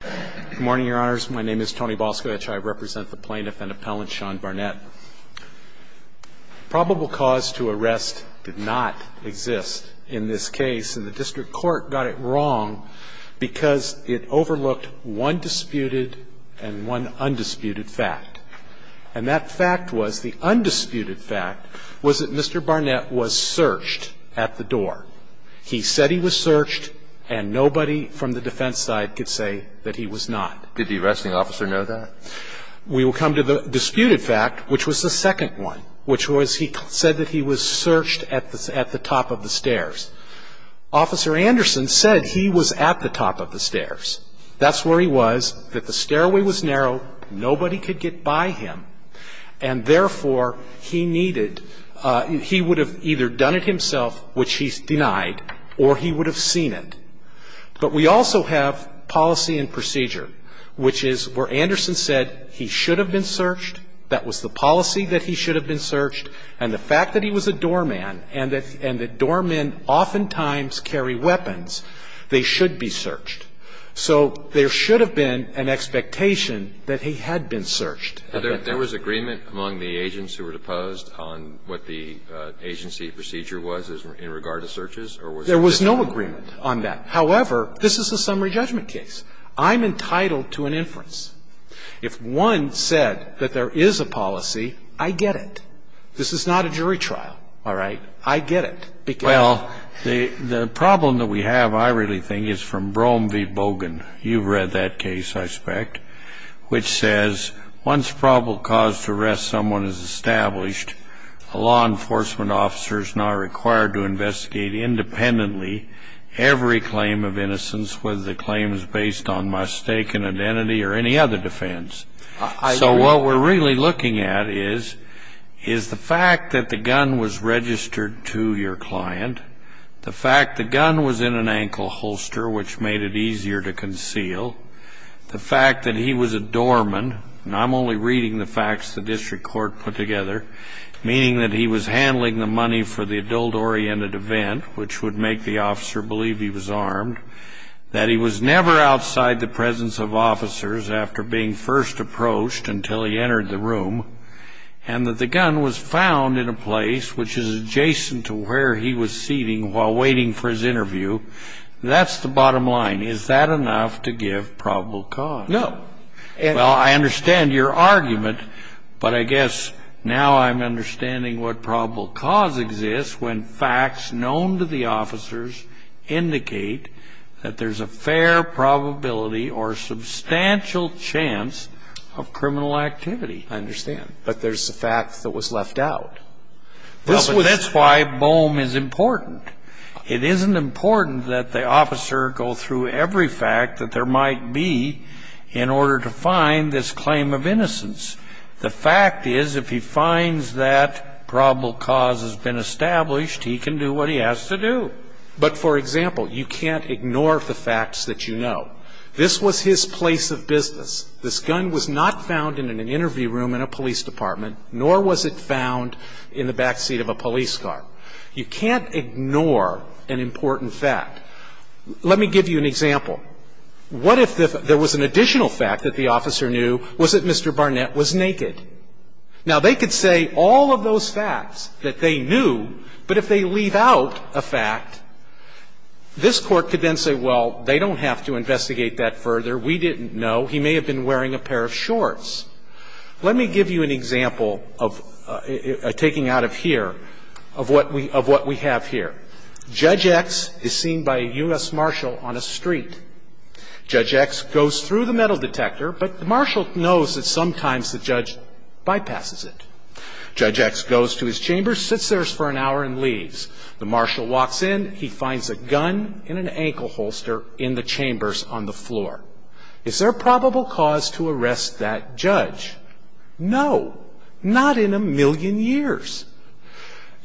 Good morning, your honors. My name is Tony Balskowicz. I represent the plaintiff and appellant Sean Barnett. Probable cause to arrest did not exist in this case, and the district court got it wrong because it overlooked one disputed and one undisputed fact. And that fact was, the undisputed fact was that Mr. Barnett was searched at the door. He said he was searched, and nobody from the defense side could say that he was not. Did the arresting officer know that? We will come to the disputed fact, which was the second one, which was he said that he was searched at the top of the stairs. Officer Anderson said he was at the top of the stairs. That's where he was, that the stairway was narrow, nobody could get by him, and therefore he needed he would have either done it himself, which he denied, or he would have seen it. But we also have policy and procedure, which is where Anderson said he should have been searched, that was the policy that he should have been searched, and the fact that he was a doorman and that doormen oftentimes carry weapons, they should be searched. So there should have been an expectation that he had been searched. There was agreement among the agents who were deposed on what the agency procedure was in regard to searches, or was there not? There was no agreement on that. However, this is a summary judgment case. I'm entitled to an inference. If one said that there is a policy, I get it. This is not a jury trial. All right? I get it. Well, the problem that we have, I really think, is from Brom v. Bogan. You've read that case, I suspect, which says once probable cause to arrest someone is established, a law enforcement officer is not required to investigate independently every claim of innocence, whether the claim is based on mistaken identity or any other defense. So what we're really looking at is the fact that the gun was registered to your client, the fact the gun was in an ankle holster, which made it easier to conceal, the fact that he was a doorman, and I'm only reading the facts the district court put together, meaning that he was handling the money for the adult-oriented event, which would make the officer believe he was armed, that he was never outside the presence of officers after being first approached until he entered the room, and that the gun was found in a place which is adjacent to where he was seating while waiting for his interview. That's the bottom line. Is that enough to give probable cause? No. Well, I understand your argument, but I guess now I'm understanding what probable cause exists when facts known to the officers indicate that there's a fair probability or substantial chance of criminal activity. I understand. But there's a fact that was left out. Well, but that's why BOEM is important. It isn't important that the officer go through every fact that there might be in order to find this claim of innocence. The fact is if he finds that probable cause has been established, he can do what he has to do. But, for example, you can't ignore the facts that you know. This was his place of business. This gun was not found in an interview room in a police department, nor was it found in the backseat of a police car. You can't ignore an important fact. Let me give you an example. What if there was an additional fact that the officer knew was that Mr. Barnett was naked? Now, they could say all of those facts that they knew, but if they leave out a fact, this Court could then say, well, they don't have to investigate that further. We didn't know. He may have been wearing a pair of shorts. Let me give you an example of taking out of here, of what we have here. Judge X is seen by a U.S. marshal on a street. Judge X goes through the metal detector, but the marshal knows that sometimes the judge bypasses it. Judge X goes to his chamber, sits there for an hour, and leaves. The marshal walks in. He finds a gun and an ankle holster in the chambers on the floor. Is there a probable cause to arrest that judge? No. Not in a million years.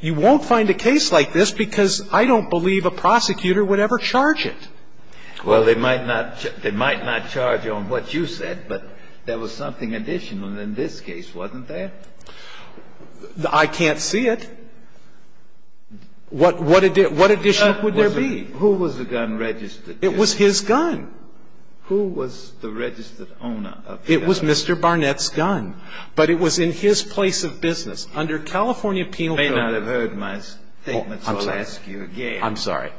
You won't find a case like this because I don't believe a prosecutor would ever charge it. Well, they might not charge on what you said, but there was something additional in this case, wasn't there? I can't see it. What additional would there be? Who was the gun registered to? It was his gun. Who was the registered owner of the gun? It was Mr. Barnett's gun, but it was in his place of business. Under California Penal Code. You may not have heard my statement, so I'll ask you again. I'm sorry.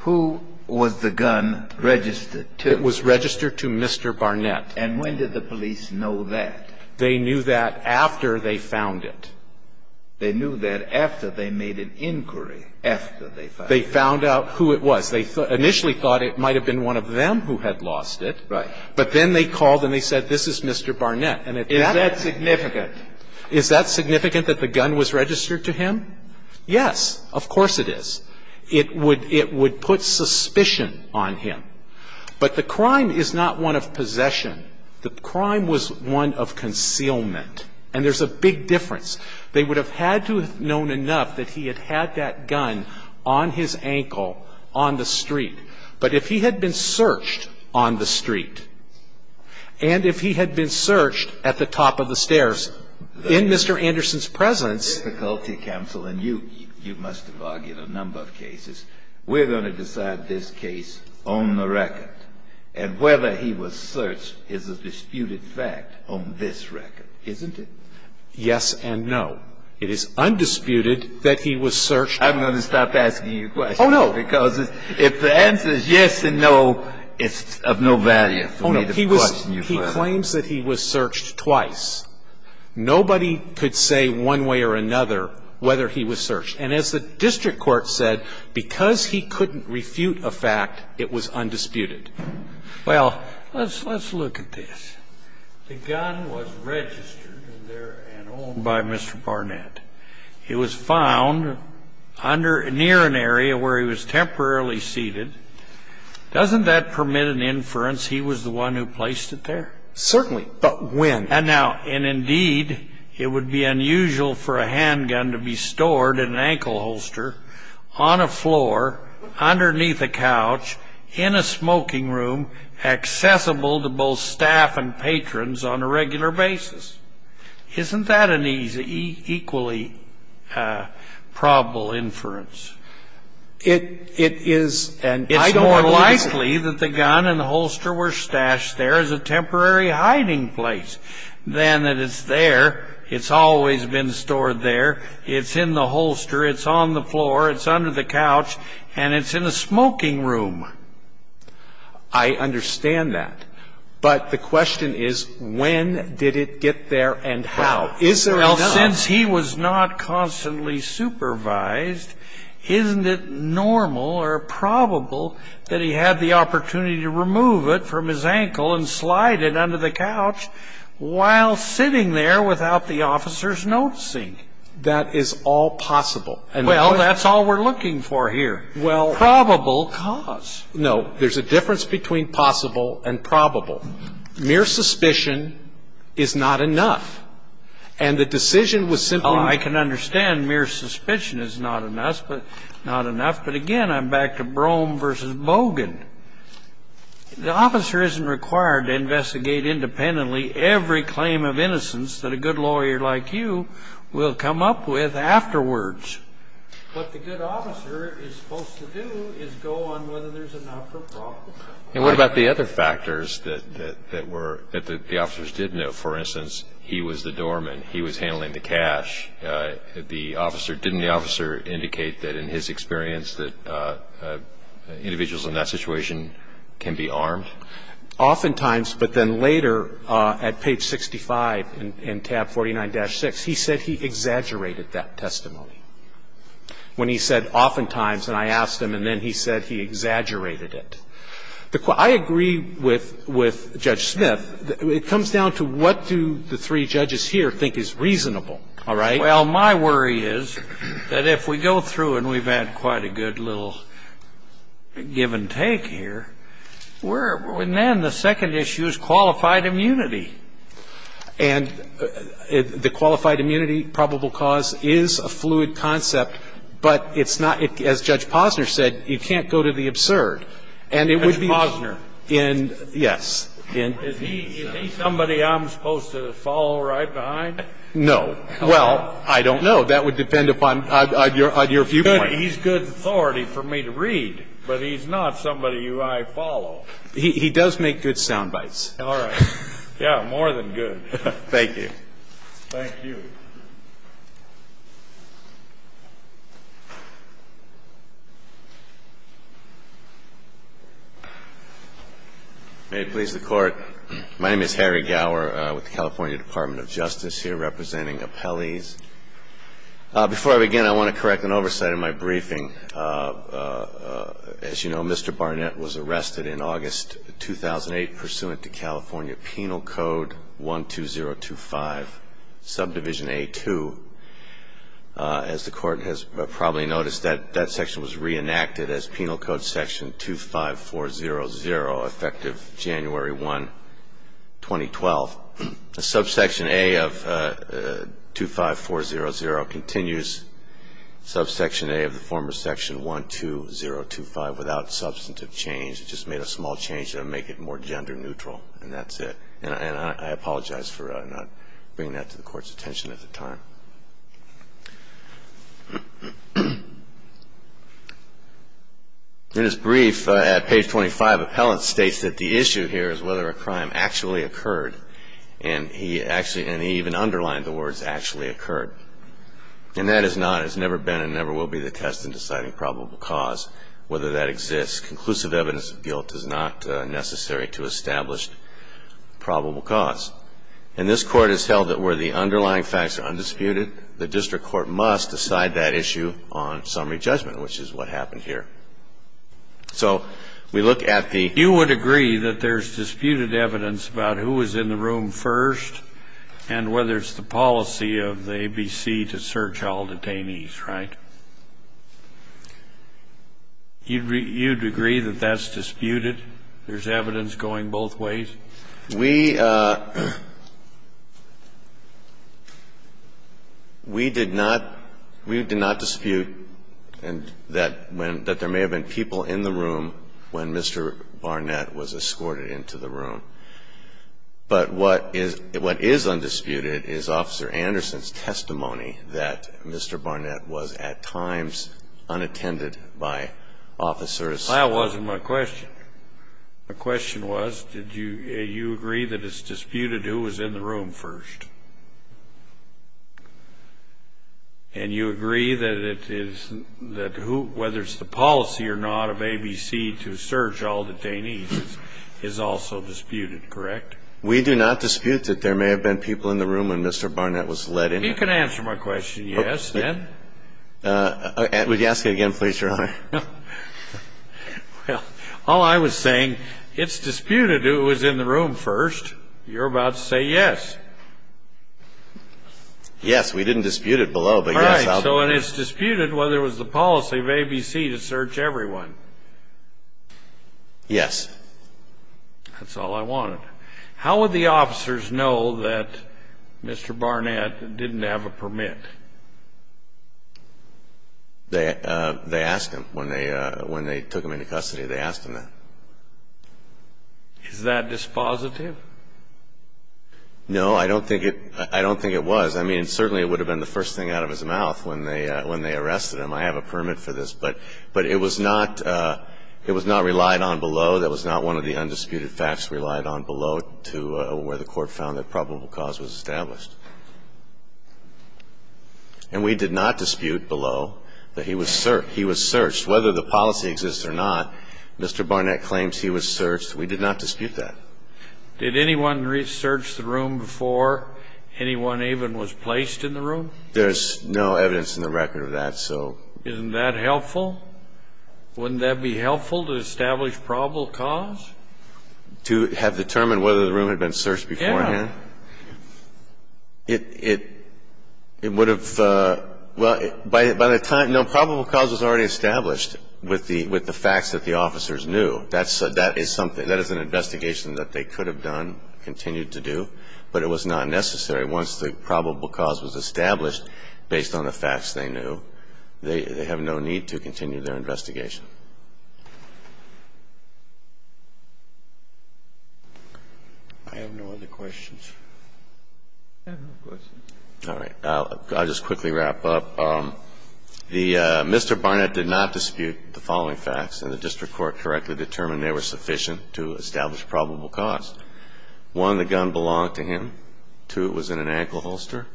Who was the gun registered to? It was registered to Mr. Barnett. And when did the police know that? They knew that after they found it. They knew that after they made an inquiry, after they found it. They found out who it was. They initially thought it might have been one of them who had lost it. Right. But then they called and they said, this is Mr. Barnett. Is that significant? Is that significant that the gun was registered to him? Yes. Of course it is. It would put suspicion on him. But the crime is not one of possession. The crime was one of concealment. And there's a big difference. And if he had been searched on the street, and if he had been searched at the top of the stairs in Mr. Anderson's presence. The difficulty, counsel, and you must have argued a number of cases, we're going to decide this case on the record. And whether he was searched is a disputed fact on this record, isn't it? Yes and no. No. It is undisputed that he was searched. I'm going to stop asking you questions. Oh, no. Because if the answer is yes and no, it's of no value for me to question you further. Oh, no. He claims that he was searched twice. Nobody could say one way or another whether he was searched. And as the district court said, because he couldn't refute a fact, it was undisputed. Well, let's look at this. The gun was registered in there and owned by Mr. Barnett. It was found under near an area where he was temporarily seated. Doesn't that permit an inference he was the one who placed it there? Certainly. But when? And now, and indeed, it would be unusual for a handgun to be stored in an ankle holster on a floor underneath a couch in a smoking room accessible to both staff and patrons on a regular basis. Isn't that an equally probable inference? It is. And I don't believe it. It's more likely that the gun and the holster were stashed there as a temporary hiding place than that it's there. It's always been stored there. It's in the holster. It's on the floor. It's under the couch. And it's in a smoking room. I understand that. But the question is, when did it get there and how? Is there enough? Well, since he was not constantly supervised, isn't it normal or probable that he had the opportunity to remove it from his ankle and slide it under the couch while sitting there without the officers noticing? That is all possible. Well, that's all we're looking for here, probable cause. No, there's a difference between possible and probable. Mere suspicion is not enough. And the decision was simply not enough. I can understand mere suspicion is not enough. But, again, I'm back to Brougham versus Bogan. The officer isn't required to investigate independently every claim of innocence that a good lawyer like you will come up with afterwards. What the good officer is supposed to do is go on whether there's enough or probable. And what about the other factors that the officers did know? For instance, he was the doorman. He was handling the cash. Didn't the officer indicate that in his experience that individuals in that situation can be armed? Oftentimes, but then later at page 65 in tab 49-6, he said he exaggerated that testimony. When he said oftentimes, and I asked him, and then he said he exaggerated it. I agree with Judge Smith. It comes down to what do the three judges here think is reasonable. All right? Well, my worry is that if we go through and we've had quite a good little give and take here, then the second issue is qualified immunity. And the qualified immunity probable cause is a fluid concept, but it's not, as Judge Posner said, you can't go to the absurd. And it would be. Judge Posner. Yes. Is he somebody I'm supposed to follow right behind? No. Well, I don't know. That would depend upon your viewpoint. He's good authority for me to read, but he's not somebody who I follow. He does make good sound bites. All right. Yeah, more than good. Thank you. Thank you. May it please the Court. My name is Harry Gower with the California Department of Justice, here representing appellees. As you know, Mr. Barnett was arrested in August 2008 pursuant to California Penal Code 12025, subdivision A-2. As the Court has probably noticed, that section was reenacted as Penal Code Section 25400, effective January 1, 2012. Subsection A of 25400 continues subsection A of the former section 12025 without substantive change. It just made a small change to make it more gender neutral, and that's it. And I apologize for not bringing that to the Court's attention at the time. In his brief at page 25, appellant states that the issue here is whether a crime actually occurred. And he actually, and he even underlined the words, actually occurred. And that is not, has never been and never will be the test in deciding probable cause, whether that exists. Conclusive evidence of guilt is not necessary to establish probable cause. And this Court has held that where the underlying facts are undisputed, the district court must decide that issue on summary judgment, which is what happened here. So we look at the ---- You would agree that there's disputed evidence about who was in the room first and whether it's the policy of the ABC to search all detainees, right? You'd agree that that's disputed? There's evidence going both ways? We did not, we did not dispute that there may have been people in the room when Mr. Barnett was escorted into the room. But what is undisputed is Officer Anderson's testimony that Mr. Barnett was at times unattended by officers. That wasn't my question. My question was, did you agree that it's disputed who was in the room first? And you agree that it is, that who, whether it's the policy or not of ABC to search all detainees is also disputed, correct? We do not dispute that there may have been people in the room when Mr. Barnett was let in. You can answer my question, yes, then. Would you ask it again, please, Your Honor? Well, all I was saying, it's disputed who was in the room first. You're about to say yes. Yes, we didn't dispute it below, but yes. All right, so it's disputed whether it was the policy of ABC to search everyone. Yes. That's all I wanted. How would the officers know that Mr. Barnett didn't have a permit? They asked him when they took him into custody. They asked him that. Is that dispositive? No, I don't think it was. I mean, certainly it would have been the first thing out of his mouth when they arrested him. I have a permit for this. But it was not relied on below. That was not one of the undisputed facts relied on below to where the court found that probable cause was established. And we did not dispute below that he was searched. Whether the policy exists or not, Mr. Barnett claims he was searched. We did not dispute that. Did anyone research the room before anyone even was placed in the room? There's no evidence in the record of that, so. Isn't that helpful? Wouldn't that be helpful to establish probable cause? To have determined whether the room had been searched beforehand? Yes. It would have, well, by the time, no, probable cause was already established with the facts that the officers knew. That is something, that is an investigation that they could have done, continued to do, but it was not necessary. Once the probable cause was established based on the facts they knew, they have no need to continue their investigation. I have no other questions. I have no questions. All right. I'll just quickly wrap up. Mr. Barnett did not dispute the following facts, and the district court correctly determined they were sufficient to establish probable cause. One, the gun belonged to him. Two, it was in an ankle holster.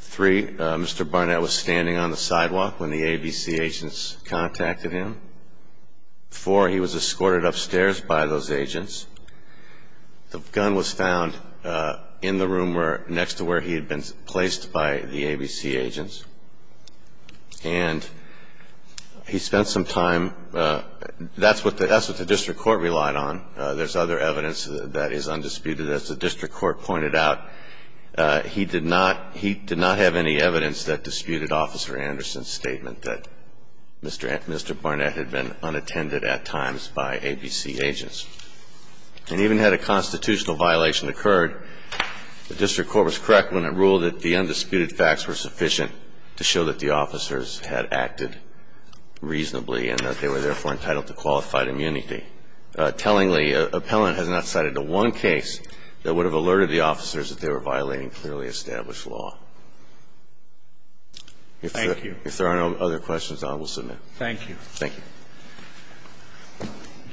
Three, Mr. Barnett was standing on the sidewalk when the ABC agent's contact with him. Four, he was escorted upstairs by those agents. The gun was found in the room next to where he had been placed by the ABC agents. And he spent some time, that's what the district court relied on. There's other evidence that is undisputed. As the district court pointed out, he did not have any evidence that disputed Officer Anderson's statement that Mr. Barnett had been unattended at times by ABC agents. And even had a constitutional violation occurred, the district court was correct when it ruled that the undisputed facts were sufficient to show that the officers had acted reasonably and that they were therefore entitled to qualified immunity. Tellingly, appellant has not cited a one case that would have alerted the officers that they were violating clearly established law. Thank you. If there are no other questions, I will submit. Thank you. Thank you.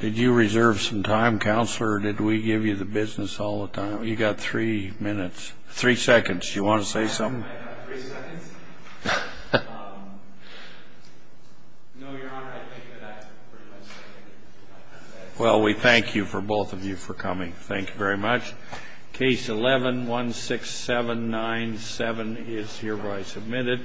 Did you reserve some time, Counselor, or did we give you the business all the time? You got three minutes. Three seconds. Do you want to say something? Three seconds? No, Your Honor, I think that I pretty much said it. Well, we thank you, both of you, for coming. Thank you very much. Case 11-16797 is hereby submitted.